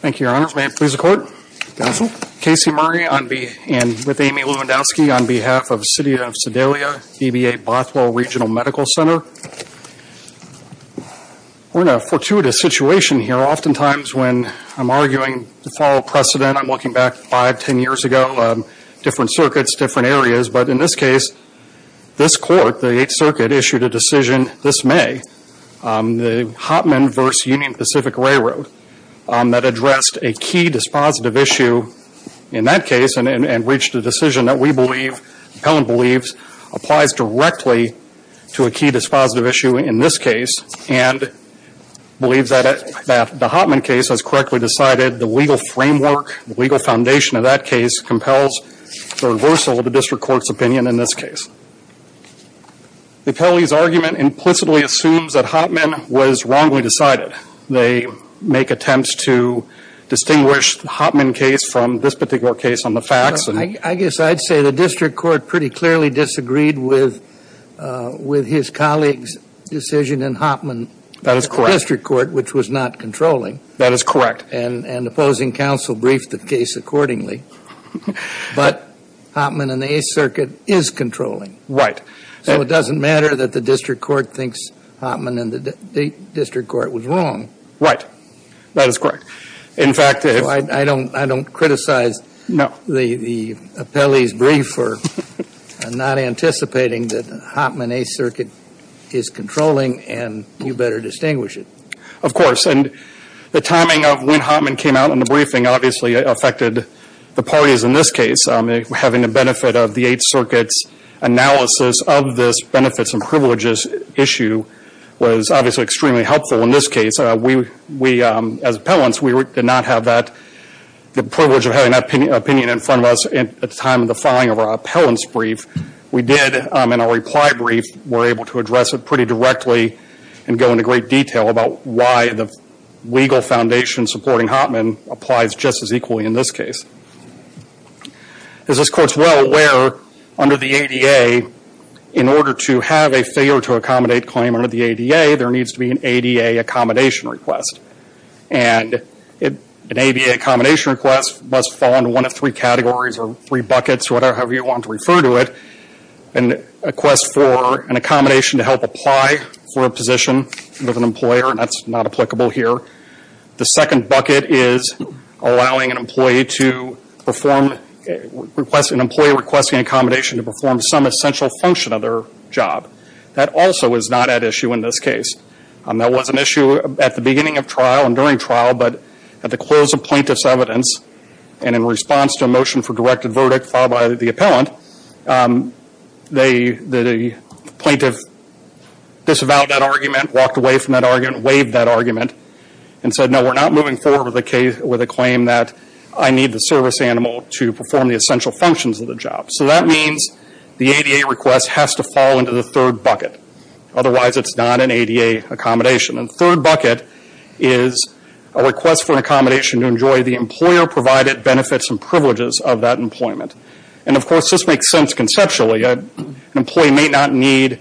Thank you, your honor. May it please the court. Counsel. Casey Murray with Amy Lewandowski on behalf of City of Sedalia, EBA Bothell Regional Medical Center. We're in a fortuitous situation here. Often times when I'm arguing to follow precedent, I'm looking back five, ten years ago, different circuits, different areas, but in this case, this court, the 8th Circuit, issued a decision this May, the Hottman v. Union Pacific Railroad, that addressed a key dispositive issue in that case and reached a decision that we believe, the appellant said that the Hottman case was correctly decided. The legal framework, the legal foundation of that case compels the reversal of the district court's opinion in this case. The appellee's argument implicitly assumes that Hottman was wrongly decided. They make attempts to distinguish the Hottman case from this particular case on the facts and I guess I'd say the district court pretty clearly disagreed with his colleague's decision in Hottman That is correct The district court, which was not controlling That is correct And opposing counsel briefed the case accordingly, but Hottman and the 8th Circuit is controlling Right So it doesn't matter that the district court thinks Hottman and the district court was wrong Right. That is correct. In fact, if I don't criticize the appellee's brief for not anticipating that Hottman, 8th Circuit is controlling and you better distinguish it Of course. And the timing of when Hottman came out in the briefing obviously affected the parties in this case. Having the benefit of the 8th Circuit's analysis of this benefits and privileges issue was obviously extremely helpful in this case. We, as appellants, did not have that, the privilege of having that opinion in front of us at the time of the appellant's brief. We did, in our reply brief, were able to address it pretty directly and go into great detail about why the legal foundation supporting Hottman applies just as equally in this case. As this court is well aware, under the ADA, in order to have a failure to accommodate claim under the ADA, there needs to be an ADA accommodation request. And an ADA accommodation request must fall into one of three categories or three buckets, however you want to refer to it. A request for an accommodation to help apply for a position with an employer, that's not applicable here. The second bucket is allowing an employee to perform, an employee requesting accommodation to perform some essential function of their job. That also is not at issue in this case. That was an issue at the beginning of trial and during trial, but at the close of plaintiff's evidence and in response to a motion for directed verdict filed by the appellant, the plaintiff disavowed that argument, walked away from that argument, waived that argument and said, no, we're not moving forward with a claim that I need the service animal to perform the essential functions of the job. So that means the ADA request has to fall into the third bucket. Otherwise, it's not an ADA accommodation. And the third bucket is a request for an accommodation to enjoy the employer provided benefits and privileges of that employment. And of course, this makes sense conceptually. An employee may not need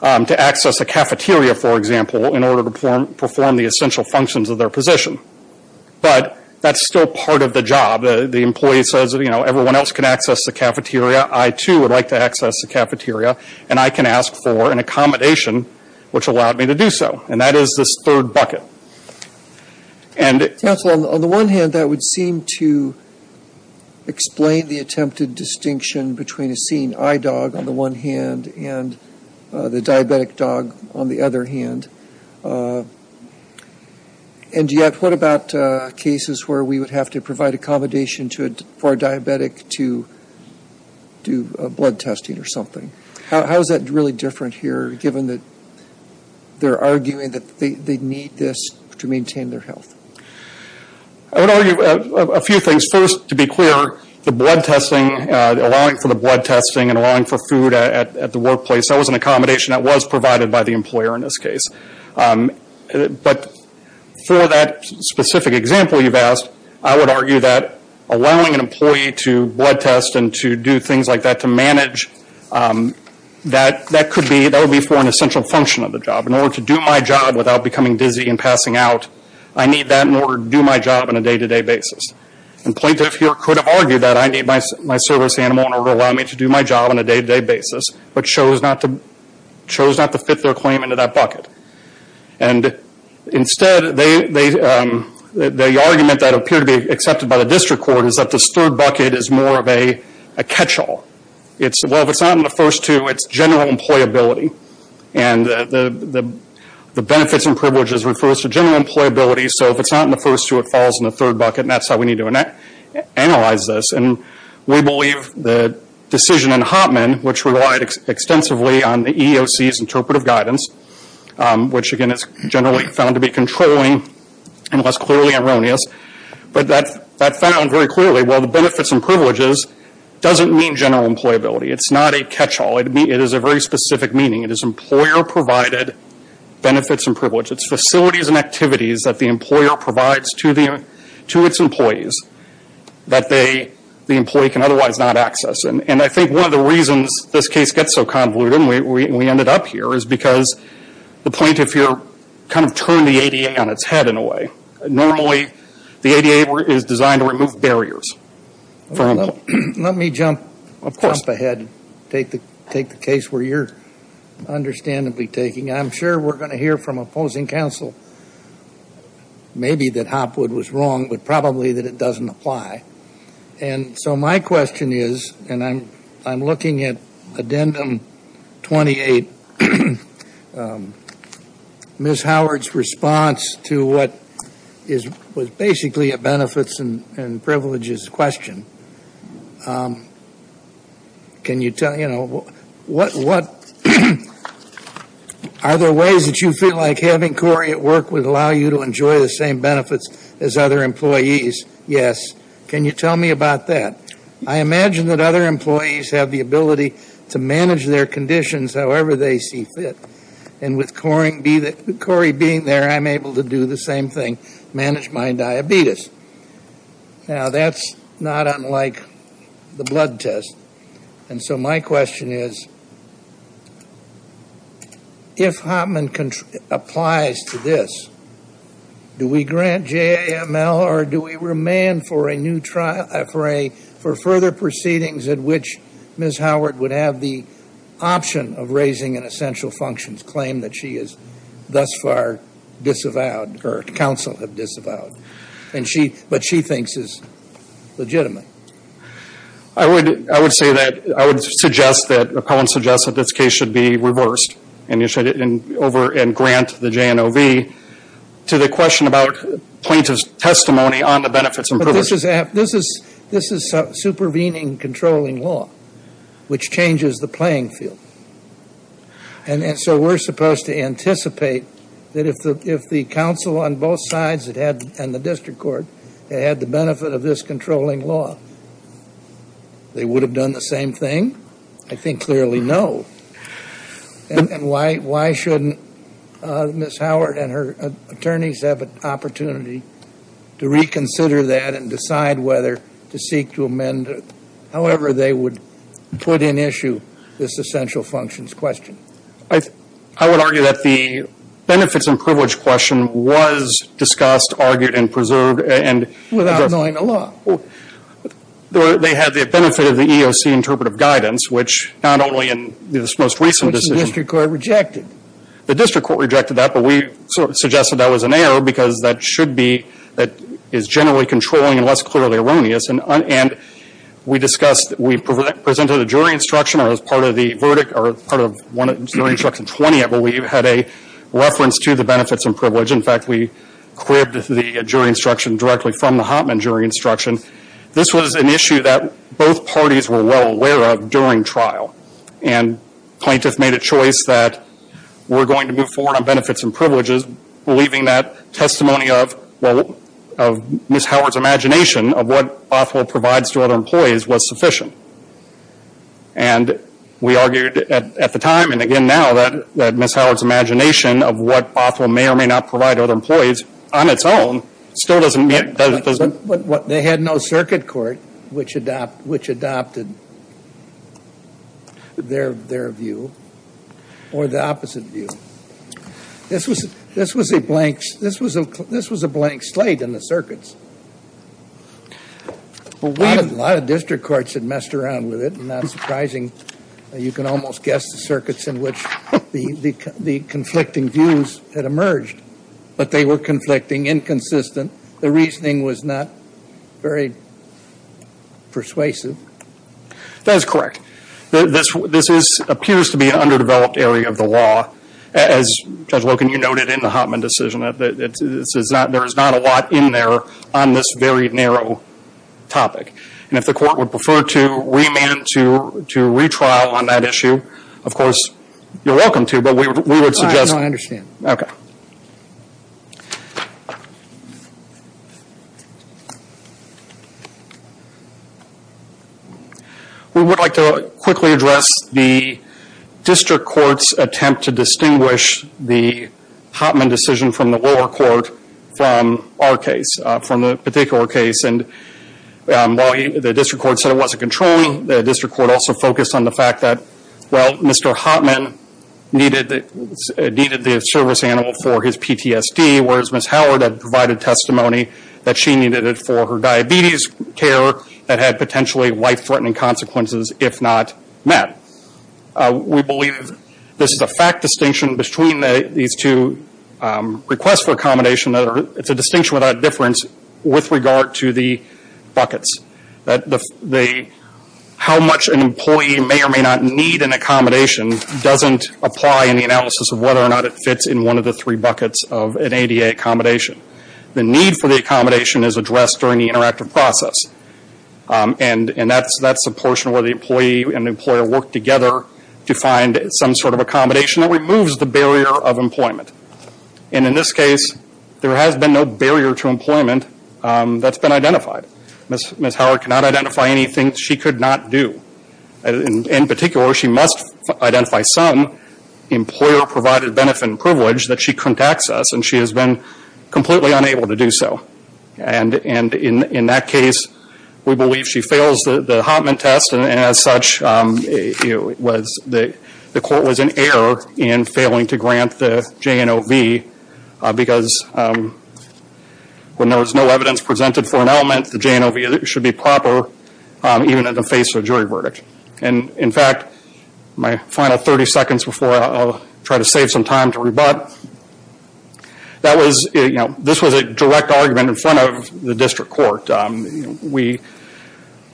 to access a cafeteria, for example, in order to perform the essential functions of their position. But that's still part of the job. The employee says, you know, everyone else can access the cafeteria. I too would like to access the cafeteria and I can ask for an accommodation which allowed me to do so. And that is this third bucket. And Counsel, on the one hand, that would seem to explain the attempted distinction between a seeing eye dog on the one hand and the diabetic dog on the other hand. And yet, what about cases where we would have to provide accommodation for a diabetic to do blood testing or something? How is that really different here, given that they're arguing that they need this to maintain their health? I would argue a few things. First, to be clear, the blood testing, allowing for the blood testing and allowing for food at the workplace, that was an accommodation that was provided by the employer in this case. But for that specific example you've asked, I would argue that allowing an employee to blood test and to do things like that to manage, that could be, that would be for an essential function of the job. In order to do my job without becoming dizzy and passing out, I need that in order to do my job on a day-to-day basis. And plaintiff here could have argued that I need my service animal in order to allow me to do my job on a day-to-day basis, but chose not to fit their claim into that bucket. And instead, the argument that appeared to be accepted by the district court is that this third bucket is more of a catch-all. It's, well, if it's not in the first two, it's general employability. And the benefits and privileges refers to general employability, so if it's not in the first two, it falls in the third bucket, and that's how we need to analyze this. And we believe the decision in Hottman, which relied extensively on the EEOC's interpretive guidance, which again is generally found to be controlling and less clearly erroneous, but that found very clearly, well, the benefits and privileges doesn't mean general employability. It's not a catch-all. It is a very specific meaning. It is employer-provided benefits and privileges. It's facilities and activities that the employer provides to the, to its employees that they, the employee can otherwise not access. And I think one of the reasons this case gets so convoluted, and we ended up here, is because the point of fear kind of turned the ADA on its head in a way. Normally, the ADA is designed to remove barriers. Let me jump ahead and take the case where you're understandably taking. I'm sure we're wrong, but probably that it doesn't apply. And so my question is, and I'm, I'm looking at Addendum 28, Ms. Howard's response to what is, was basically a benefits and, and privileges question. Can you tell, you know, what, what, are there ways that you feel like having Corey at work would allow you to enjoy the same benefits as other employees? Yes. Can you tell me about that? I imagine that other employees have the ability to manage their conditions however they see fit. And with Corey being there, I'm able to do the same thing, manage my diabetes. Now, that's not unlike the blood test. And so my question is, if Hopman applies to this, do we grant JAML or do we remand for a new trial, for a, for further proceedings at which Ms. Howard would have the option of raising an essential functions claim that she is thus far disavowed, or counsel have disavowed. And she, what she thinks is legitimate. I would, I would say that, I would suggest that, the appellant suggests that this case should be reversed. And you should, and over, and grant the JNOV to the question about plaintiff's testimony on the benefits and privileges. But this is, this is, this is supervening controlling law, which changes the playing field. And, and so we're supposed to anticipate that if the, if the counsel on both sides had had, and the district court, had had the benefit of this controlling law, they would have done the same thing? I think clearly no. And, and why, why shouldn't Ms. Howard and her attorneys have an opportunity to reconsider that and decide whether to seek to amend, however they would put in issue this essential functions question? I, I would argue that the benefits and privilege question was discussed, argued, and preserved, and. Without knowing the law. They, they had the benefit of the EOC interpretive guidance, which not only in this most recent decision. Which the district court rejected. The district court rejected that, but we suggested that was an error because that should be, that is generally controlling and less clearly erroneous. And, and we discussed, we presented a jury instruction as part of the verdict, or part of one of the jury instruction 20, I believe, had a reference to the benefits and privilege. In fact, we quibbed the jury instruction directly from the Hoffman jury instruction. This was an issue that both parties were well aware of during trial. And plaintiff made a choice that we're going to move forward on benefits and privileges, believing that testimony of, well, of Ms. Howard's imagination of what Bothell provides to other employees was sufficient. And we argued at, at the time, and again now, that, that Ms. Howard's imagination of what Bothell may or may not provide to other employees on its own still doesn't mean that it doesn't. But, but they had no circuit court which adopt, which adopted their, their view. Or the opposite view. This was, this was a blank, this was a, this was a blank slate in the circuits. A lot of, a lot of district courts had messed around with it, and that's surprising. You can almost guess the circuits in which the, the conflicting views had emerged. But they were conflicting, inconsistent. The reasoning was not very persuasive. That is correct. This, this is, appears to be an underdeveloped area of the law. As Judge Loken, you noted in the Hotman decision, that, that, that this is not, there is not a lot in there on this very narrow topic. And if the court would prefer to remand to, to retrial on that issue, of course, you're welcome to, but we would, we would suggest. I know, I understand. Okay. We would like to quickly address the district court's attempt to distinguish the Hotman decision from the lower court from our case, from the particular case. And while the district court said it wasn't controlling, the district court also focused on the fact that, well, Mr. Hotman needed the, needed the service animal for his PTSD, whereas Ms. Howard had provided testimony that she needed it for her diabetes care that had potentially life-threatening consequences, if not met. We believe this is a fact distinction between the, these two requests for accommodation that are, it's a distinction without difference with regard to the buckets. That the, how much an employee may or may not need an accommodation doesn't apply in the analysis of whether or not it fits in one of the three buckets of an ADA accommodation. The need for the accommodation is addressed during the interactive process. And that's, that's the portion where the employee and employer work together to find some sort of accommodation that removes the barrier of employment. And in this case, there has been no barrier to employment that's been identified. Ms. Howard cannot identify anything she could not do. In particular, she must identify some employer-provided benefit and privilege that she can't access, and she has been completely unable to do so. And in that case, we believe she fails the Hotman test, and as such, it was, the court was in error in failing to grant the JNOV. Because when there was no evidence presented for an element, the JNOV should be proper even at the face of a jury verdict. And in fact, my final 30 seconds before I'll try to save some time to rebut. That was, you know, this was a direct argument in front of the district court. We,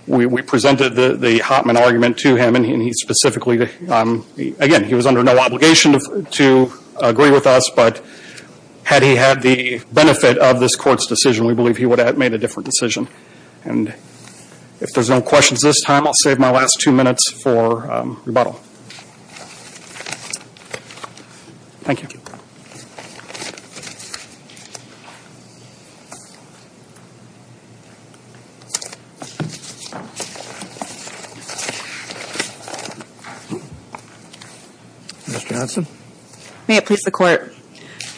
we, we presented the, the Hotman argument to him, and he specifically again, he was under no obligation to, to agree with us, but had he had the benefit of this court's decision, we believe he would have made a different decision. And if there's no questions this time, I'll save my last two minutes for rebuttal. Thank you. Ms. Johnson. May it please the court.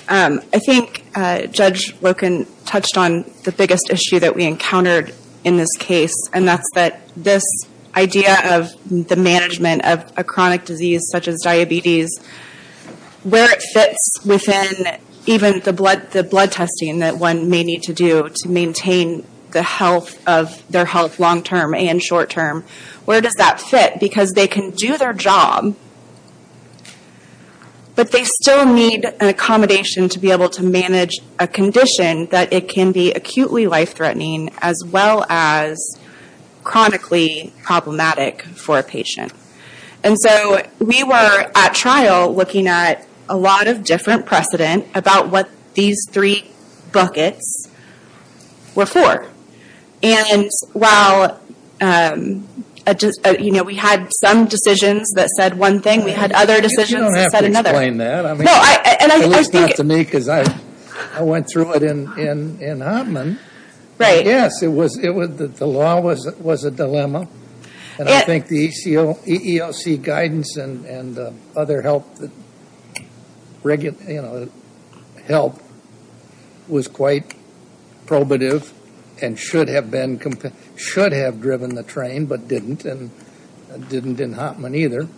I think Judge Loken touched on the biggest issue that we encountered in this case. And that's that this idea of the management of a chronic disease such as diabetes. Where it fits within even the blood, the blood testing that one may need to do to maintain the health of their health long term and short term. Where does that fit? Because they can do their job, but they still need an accommodation to be able to manage a condition that it can be acutely life threatening, as well as chronically problematic for a patient. And so we were at trial looking at a lot of different precedent about what these three buckets were for. And while we had some decisions that said one thing, we had other decisions that said another. You don't have to explain that. I mean, it looks good to me because I went through it in Oppmann. Right. Yes, the law was a dilemma. And I think the EEOC guidance and other help was quite probative. And should have been, should have driven the train, but didn't. And didn't in Oppmann either.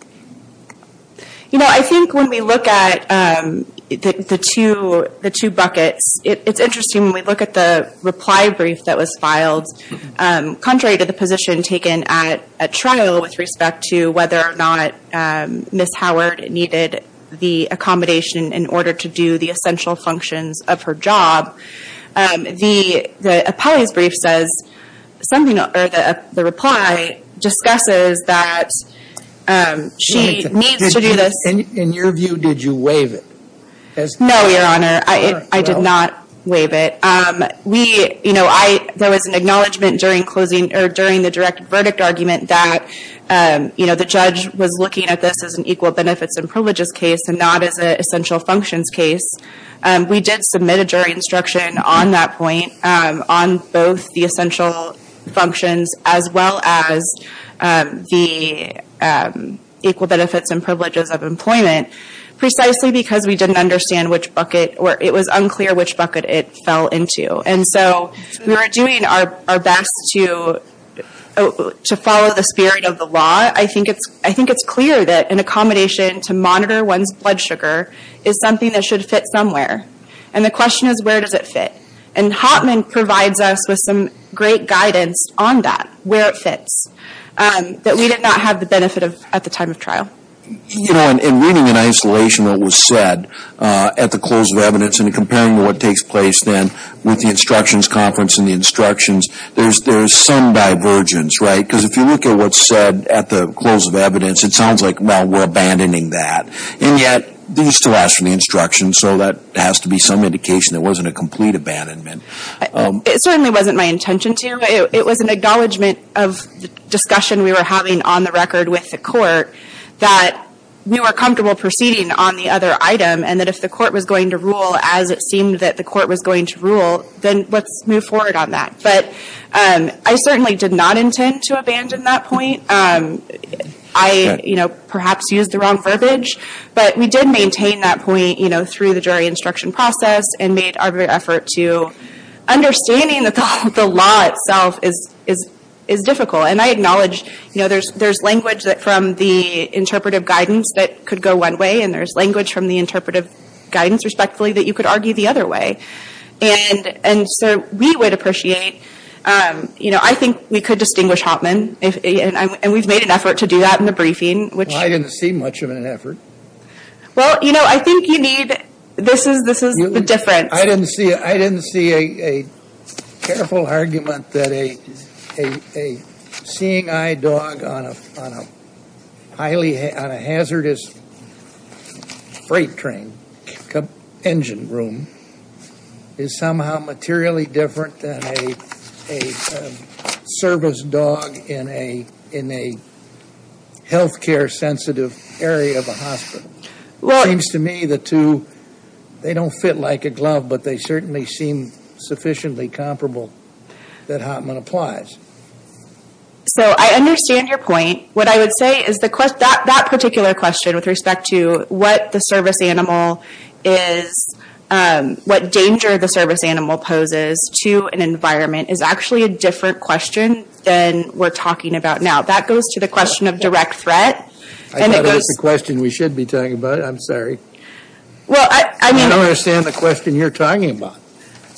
You know, I think when we look at the two buckets, it's interesting when we look at the reply brief that was filed. Contrary to the position taken at trial with respect to whether or not Ms. Howard needed the accommodation in order to do the essential functions of her job. The appellee's brief says, the reply discusses that she needs to do this. In your view, did you waive it? No, your honor, I did not waive it. We, there was an acknowledgement during the direct verdict argument that the judge was looking at this as an equal benefits and privileges case and not as an essential functions case. We did submit a jury instruction on that point on both the essential functions as well as the equal benefits and privileges of employment. Precisely because we didn't understand which bucket, or it was unclear which bucket it fell into. And so we were doing our best to follow the spirit of the law. I think it's clear that an accommodation to monitor one's blood sugar is something that should fit somewhere. And the question is, where does it fit? And Hoffman provides us with some great guidance on that, where it fits, that we did not have the benefit of at the time of trial. You know, in reading in isolation what was said at the close of evidence and comparing what takes place then with the instructions conference and the instructions, there's some divergence, right? Because if you look at what's said at the close of evidence, it sounds like, well, we're abandoning that. And yet, these still ask for the instructions, so that has to be some indication that it wasn't a complete abandonment. It certainly wasn't my intention to. It was an acknowledgment of the discussion we were having on the record with the court that we were comfortable proceeding on the other item. And that if the court was going to rule as it seemed that the court was going to rule, then let's move forward on that. But I certainly did not intend to abandon that point. I, you know, perhaps used the wrong verbiage, but we did maintain that point, you know, through the jury instruction process, and made our effort to understanding that the law itself is difficult. And I acknowledge, you know, there's language from the interpretive guidance that could go one way, and there's language from the interpretive guidance, respectfully, that you could argue the other way. And so we would appreciate, you know, I think we could distinguish Hoffman. And we've made an effort to do that in the briefing, which- Well, I didn't see much of an effort. Well, you know, I think you need, this is the difference. I didn't see a careful argument that a seeing eye dog on a highly, on a hazardous freight train engine room is somehow materially different than a service dog in a health care sensitive area of a hospital. It seems to me the two, they don't fit like a glove, but they certainly seem sufficiently comparable that Hoffman applies. So I understand your point. What I would say is that particular question with respect to what the service animal poses to an environment is actually a different question than we're talking about now. That goes to the question of direct threat. I thought that was the question we should be talking about. I'm sorry. Well, I mean- I don't understand the question you're talking about.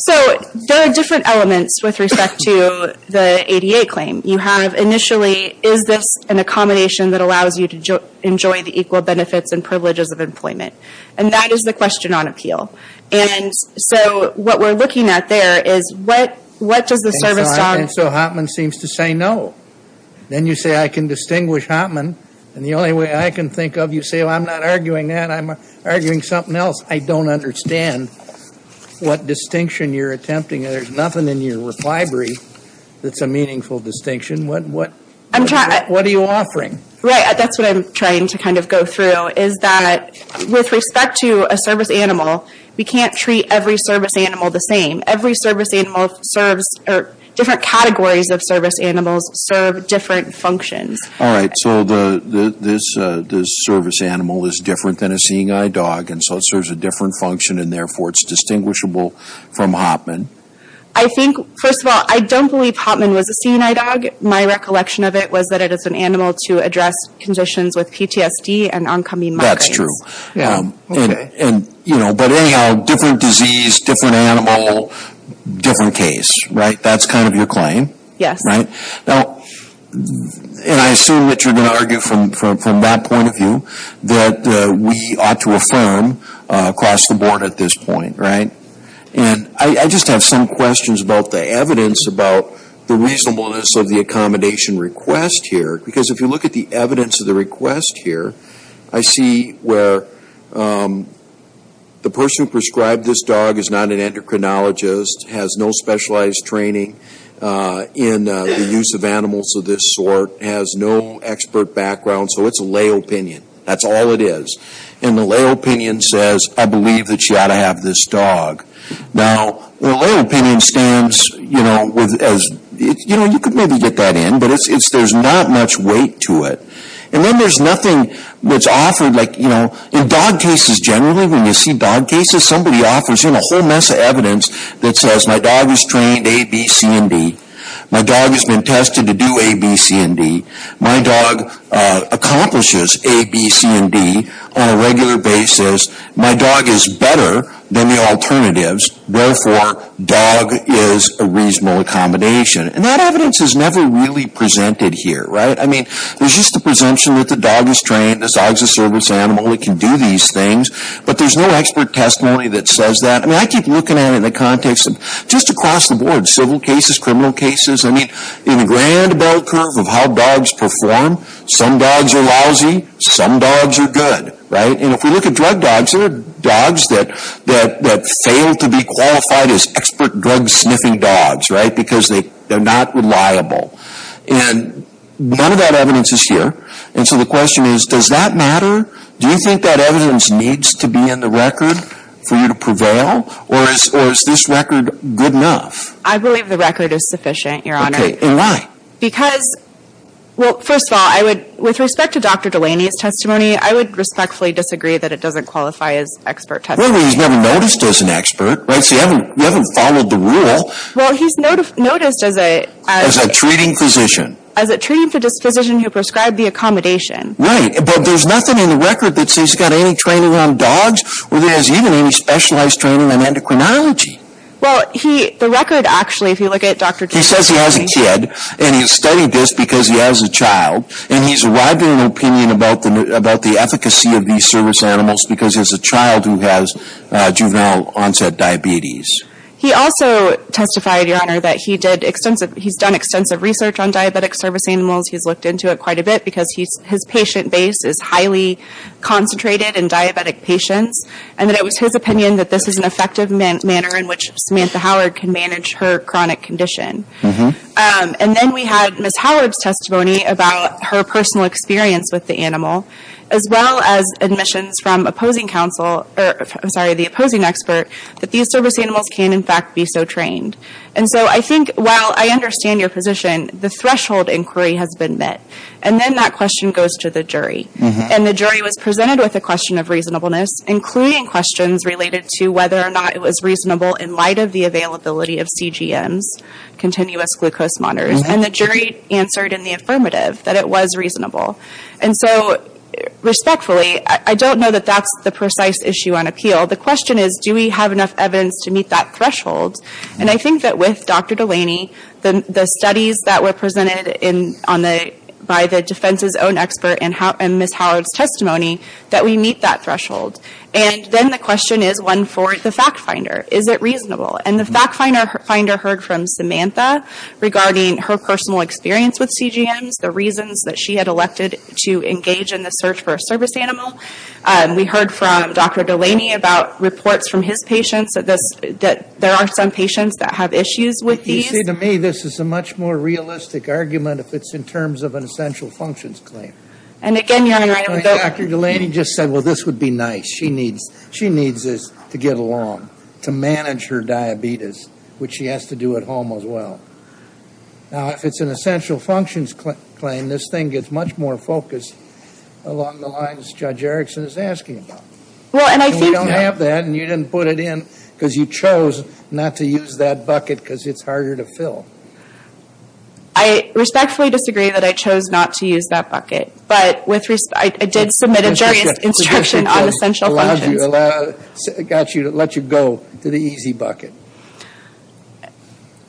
So there are different elements with respect to the ADA claim. You have initially, is this an accommodation that allows you to enjoy the equal benefits and privileges of employment? And that is the question on appeal. And so what we're looking at there is what does the service dog- And so Hoffman seems to say no. Then you say, I can distinguish Hoffman. And the only way I can think of, you say, well, I'm not arguing that. I'm arguing something else. I don't understand what distinction you're attempting. There's nothing in your reply brief that's a meaningful distinction. What are you offering? Right. That's what I'm trying to kind of go through. Is that with respect to a service animal, we can't treat every service animal the same. Every service animal serves- Different categories of service animals serve different functions. All right. So the service animal is different than a seeing eye dog. And so it serves a different function. And therefore, it's distinguishable from Hoffman. I think, first of all, I don't believe Hoffman was a seeing eye dog. My recollection of it was that it is an animal to address conditions with PTSD and oncoming migraines. That's true. Yeah. And, you know, but anyhow, different disease, different animal, different case. Right? That's kind of your claim. Yes. Right? Now, and I assume that you're going to argue from that point of view, that we ought to affirm across the board at this point, right? And I just have some questions about the evidence, about the reasonableness of the accommodation request here. Because if you look at the evidence of the request here, I see where the person who prescribed this dog is not an endocrinologist, has no specialized training in the use of animals of this sort, has no expert background. So it's a lay opinion. That's all it is. And the lay opinion says, I believe that you ought to have this dog. Now, the lay opinion stands, you know, with as- You know, you could maybe get that in. But there's not much weight to it. And then there's nothing that's offered. Like, you know, in dog cases generally, when you see dog cases, somebody offers in a whole mess of evidence that says, my dog is trained A, B, C, and D. My dog has been tested to do A, B, C, and D. My dog accomplishes A, B, C, and D on a regular basis. My dog is better than the alternatives. Therefore, dog is a reasonable accommodation. And that evidence is never really presented here, right? I mean, there's just the presumption that the dog is trained, the dog is a service animal, it can do these things. But there's no expert testimony that says that. I mean, I keep looking at it in the context of just across the board, civil cases, criminal cases. I mean, in the grand bell curve of how dogs perform, some dogs are lousy, some dogs are good, right? And if we look at drug dogs, there are dogs that fail to be qualified as expert drug-sniffing dogs, right? Because they're not reliable. And none of that evidence is here. And so the question is, does that matter? Do you think that evidence needs to be in the record for you to prevail? Or is this record good enough? I believe the record is sufficient, Your Honor. Okay, and why? Because, well, first of all, with respect to Dr. Delaney's testimony, I would respectfully disagree that it doesn't qualify as expert testimony. So you haven't followed the rule. Well, he's noticed as a- As a treating physician. As a treating physician who prescribed the accommodation. Right, but there's nothing in the record that says he's got any training on dogs, or there's even any specialized training in endocrinology. Well, the record actually, if you look at Dr. Delaney- He says he has a kid, and he has studied this because he has a child, and he's a widely opinion about the efficacy of these service animals because he has a child who has juvenile onset diabetes. He also testified, Your Honor, that he's done extensive research on diabetic service animals. He's looked into it quite a bit because his patient base is highly concentrated in diabetic patients. And that it was his opinion that this is an effective manner in which Samantha Howard can manage her chronic condition. And then we had Ms. Howard's testimony about her personal experience with the animal, as well as admissions from opposing counsel, or I'm sorry, the opposing expert, that these service animals can in fact be so trained. And so I think, while I understand your position, the threshold inquiry has been met. And then that question goes to the jury. And the jury was presented with a question of reasonableness, including questions related to whether or not it was reasonable in light of the availability of CGMs, continuous glucose monitors. And the jury answered in the affirmative that it was reasonable. And so, respectfully, I don't know that that's the precise issue on appeal. The question is, do we have enough evidence to meet that threshold? And I think that with Dr. Delaney, the studies that were presented by the defense's own expert and Ms. Howard's testimony, that we meet that threshold. And then the question is one for the fact finder. Is it reasonable? And the fact finder heard from Samantha regarding her personal experience with CGMs, the reasons that she had elected to engage in the search for a service animal. We heard from Dr. Delaney about reports from his patients that there are some patients that have issues with these. You see, to me, this is a much more realistic argument if it's in terms of an essential functions claim. And again, your Honor, I don't know. Dr. Delaney just said, well, this would be nice. She needs this to get along, to manage her diabetes, which she has to do at home as well. Now, if it's an essential functions claim, this thing gets much more focused along the lines Judge Erickson is asking about. And we don't have that. And you didn't put it in because you chose not to use that bucket because it's harder to fill. I respectfully disagree that I chose not to use that bucket. But with respect, I did submit a jury's instruction on essential functions. It got you to let you go to the easy bucket.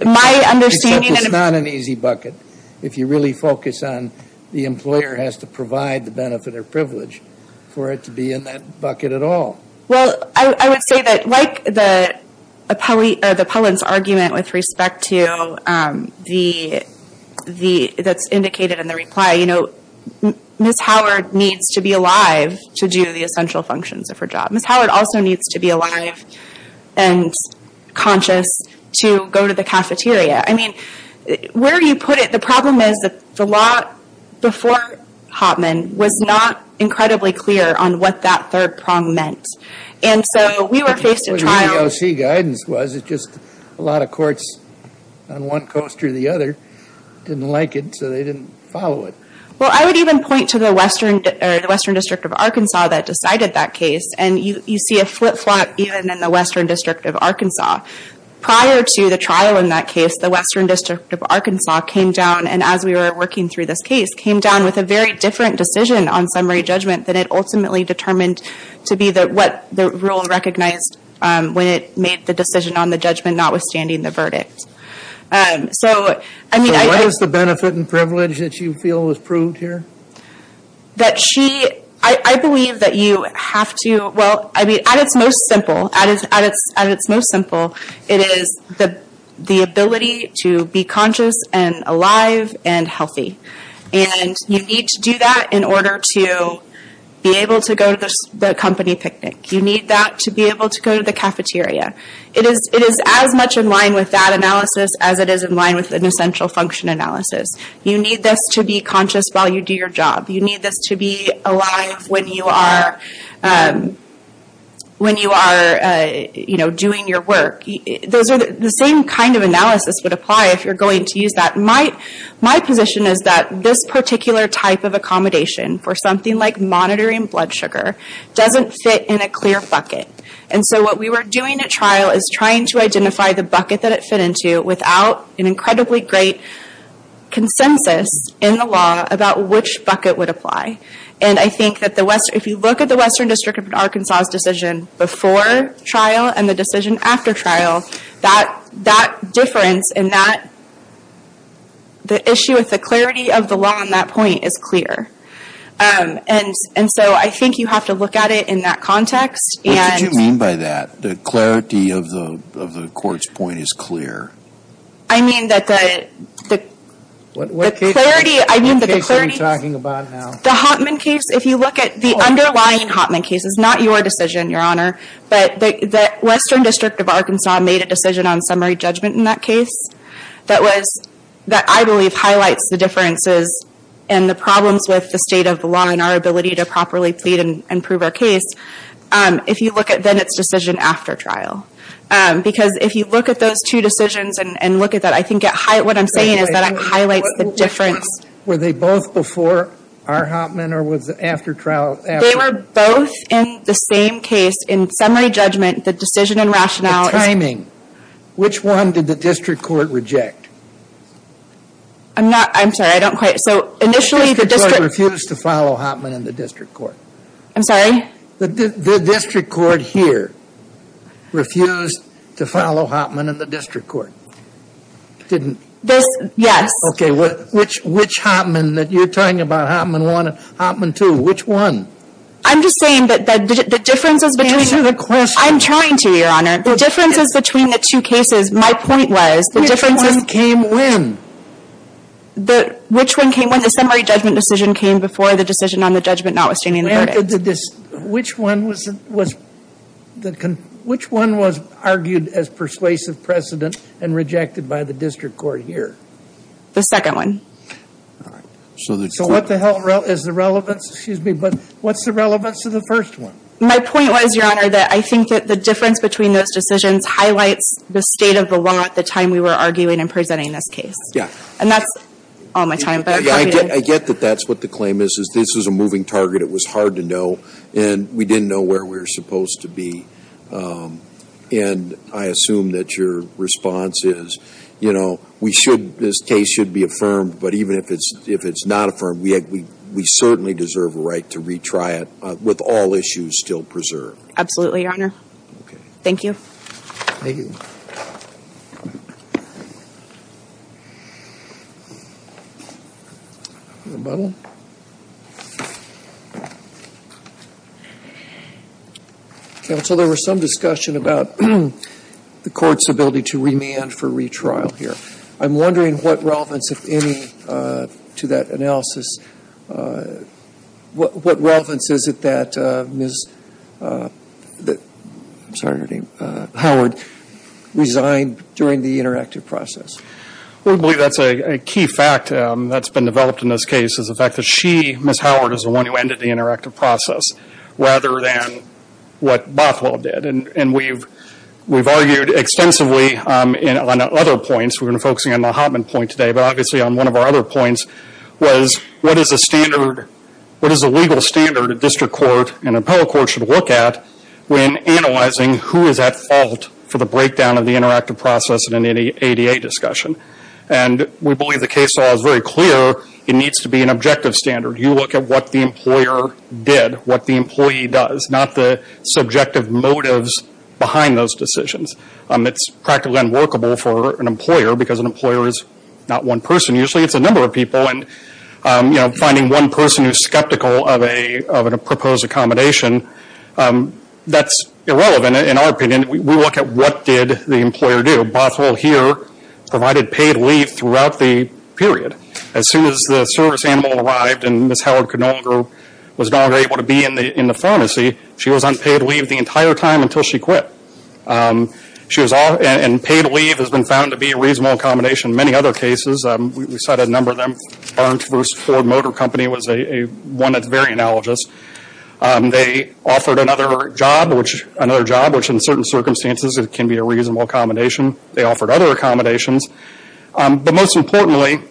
My understanding is that it's not an easy bucket if you really focus on the employer has to provide the benefit or privilege for it to be in that bucket at all. Well, I would say that like the appellant's argument with respect to the that's indicated in the reply, you know, Ms. Howard needs to be alive to do the essential functions of her job. Ms. Howard also needs to be alive and conscious to go to the cafeteria. I mean, where you put it, the problem is that the law before Hoffman was not incredibly clear on what that third prong meant. And so we were faced with trials. What the EOC guidance was, it's just a lot of courts on one coast or the other didn't like it, so they didn't follow it. Well, I would even point to the Western District of Arkansas that decided that case. And you see a flip-flop even in the Western District of Arkansas. Prior to the trial in that case, the Western District of Arkansas came down, and as we were working through this case, came down with a very different decision on summary judgment than it ultimately determined to be what the rule recognized when it made the decision on the judgment notwithstanding the verdict. So, I mean... So what is the benefit and privilege that you feel was proved here? That she... I believe that you have to... Well, at its most simple, at its most simple, it is the ability to be conscious and alive and healthy. And you need to do that in order to be able to go to the company picnic. You need that to be able to go to the cafeteria. It is as much in line with that analysis as it is in line with an essential function analysis. You need this to be conscious while you do your job. You need this to be alive when you are doing your work. The same kind of analysis would apply if you're going to use that. My position is that this particular type of accommodation for something like monitoring blood sugar doesn't fit in a clear bucket. And so what we were doing at trial is trying to identify the bucket that it fit into without an incredibly great consensus in the law about which bucket would apply. And I think that the West... If you look at the Western District of Arkansas' decision before trial and the decision after trial, that difference in that... The issue with the clarity of the law on that point is clear. And so I think you have to look at it in that context. What did you mean by that? The clarity of the court's point is clear. I mean that the clarity... What case are you talking about now? The Hotman case. If you look at the underlying Hotman case, it's not your decision, Your Honor. But the Western District of Arkansas made a decision on summary judgment in that case that I believe highlights the differences and the problems with the state of the law and our ability to properly plead and prove our case. If you look at then its decision after trial. Because if you look at those two decisions and look at that, I think what I'm saying is that it highlights the difference. Were they both before our Hotman or was it after trial? They were both in the same case. In summary judgment, the decision and rationale... The timing. Which one did the district court reject? I'm not... I'm sorry, I don't quite... So initially the district... The district court refused to follow Hotman in the district court. I'm sorry? The district court here refused to follow Hotman in the district court. Didn't... This... Yes. Okay, which Hotman that you're talking about? Hotman 1 and Hotman 2. Which one? I'm just saying that the differences between... Answer the question. I'm trying to, Your Honor. The differences between the two cases, my point was... Which one came when? Which one came when? The summary judgment decision came before the decision on the judgment not withstanding the verdict. Which one was... Which one was argued as persuasive precedent and rejected by the district court here? The second one. All right, so the... So what the hell is the relevance? Excuse me, but what's the relevance of the first one? My point was, Your Honor, that I think that the difference between those decisions highlights the state of the law at the time we were arguing and presenting this case. Yeah. And that's all my time. I get that that's what the claim is, is this is a moving target. It was hard to know. And we didn't know where we were supposed to be. And I assume that your response is, you know, we should... This case should be affirmed. But even if it's not affirmed, we certainly deserve a right to retry it with all issues still preserved. Absolutely, Your Honor. Okay. Thank you. Thank you. Rebuttal. Counsel, there was some discussion about the court's ability to remand for retrial here. I'm wondering what relevance, if any, to that analysis... What relevance is it that Ms... I'm sorry, your name? Howard. ...resigned during the interactive process? Well, I believe that's a key fact that's been developed in this case is the fact that she, Ms. Howard, is the one who ended the interactive process rather than what Bothwell did. And we've argued extensively on other points. We've been focusing on the Hoffman point today. But obviously, on one of our other points was what is a standard, what is a legal standard a district court and appellate court should look at when analyzing who is at fault for the breakdown of the interactive process in an ADA discussion. And we believe the case law is very clear. It needs to be an objective standard. You look at what the employer did, what the employee does, not the subjective motives behind those decisions. It's practically unworkable for an employer because an employer is not one person. Usually, it's a number of people. And finding one person who's skeptical of a proposed accommodation, that's irrelevant in our opinion. We look at what did the employer do. Bothwell here provided paid leave throughout the period. As soon as the service animal arrived and Ms. Howard could no longer, was no longer able to be in the pharmacy, she was on paid leave the entire time until she quit. And paid leave has been found to be a reasonable accommodation in many other cases. We cited a number of them. Barnes vs. Ford Motor Company was one that's very analogous. They offered another job, which in certain circumstances can be a reasonable accommodation. They offered other accommodations. But most importantly,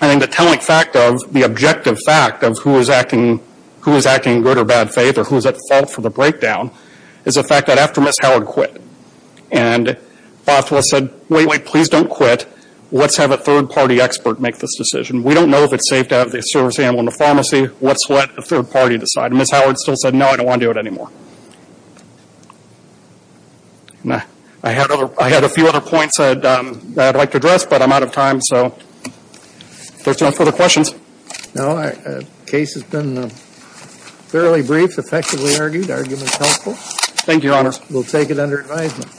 I think the telling fact of, the objective fact of who is acting good or bad faith or who is at fault for the breakdown is the fact that after Ms. Howard quit and Bothwell said, wait, wait, please don't quit. Let's have a third party expert make this decision. We don't know if it's safe to have the service animal in the pharmacy. Let's let a third party decide. Ms. Howard still said, no, I don't want to do it anymore. I had a few other points that I'd like to address, but I'm out of time. So if there's no further questions. No, the case has been fairly brief, effectively argued, argument helpful. Thank you, Your Honor. We'll take it under advisement.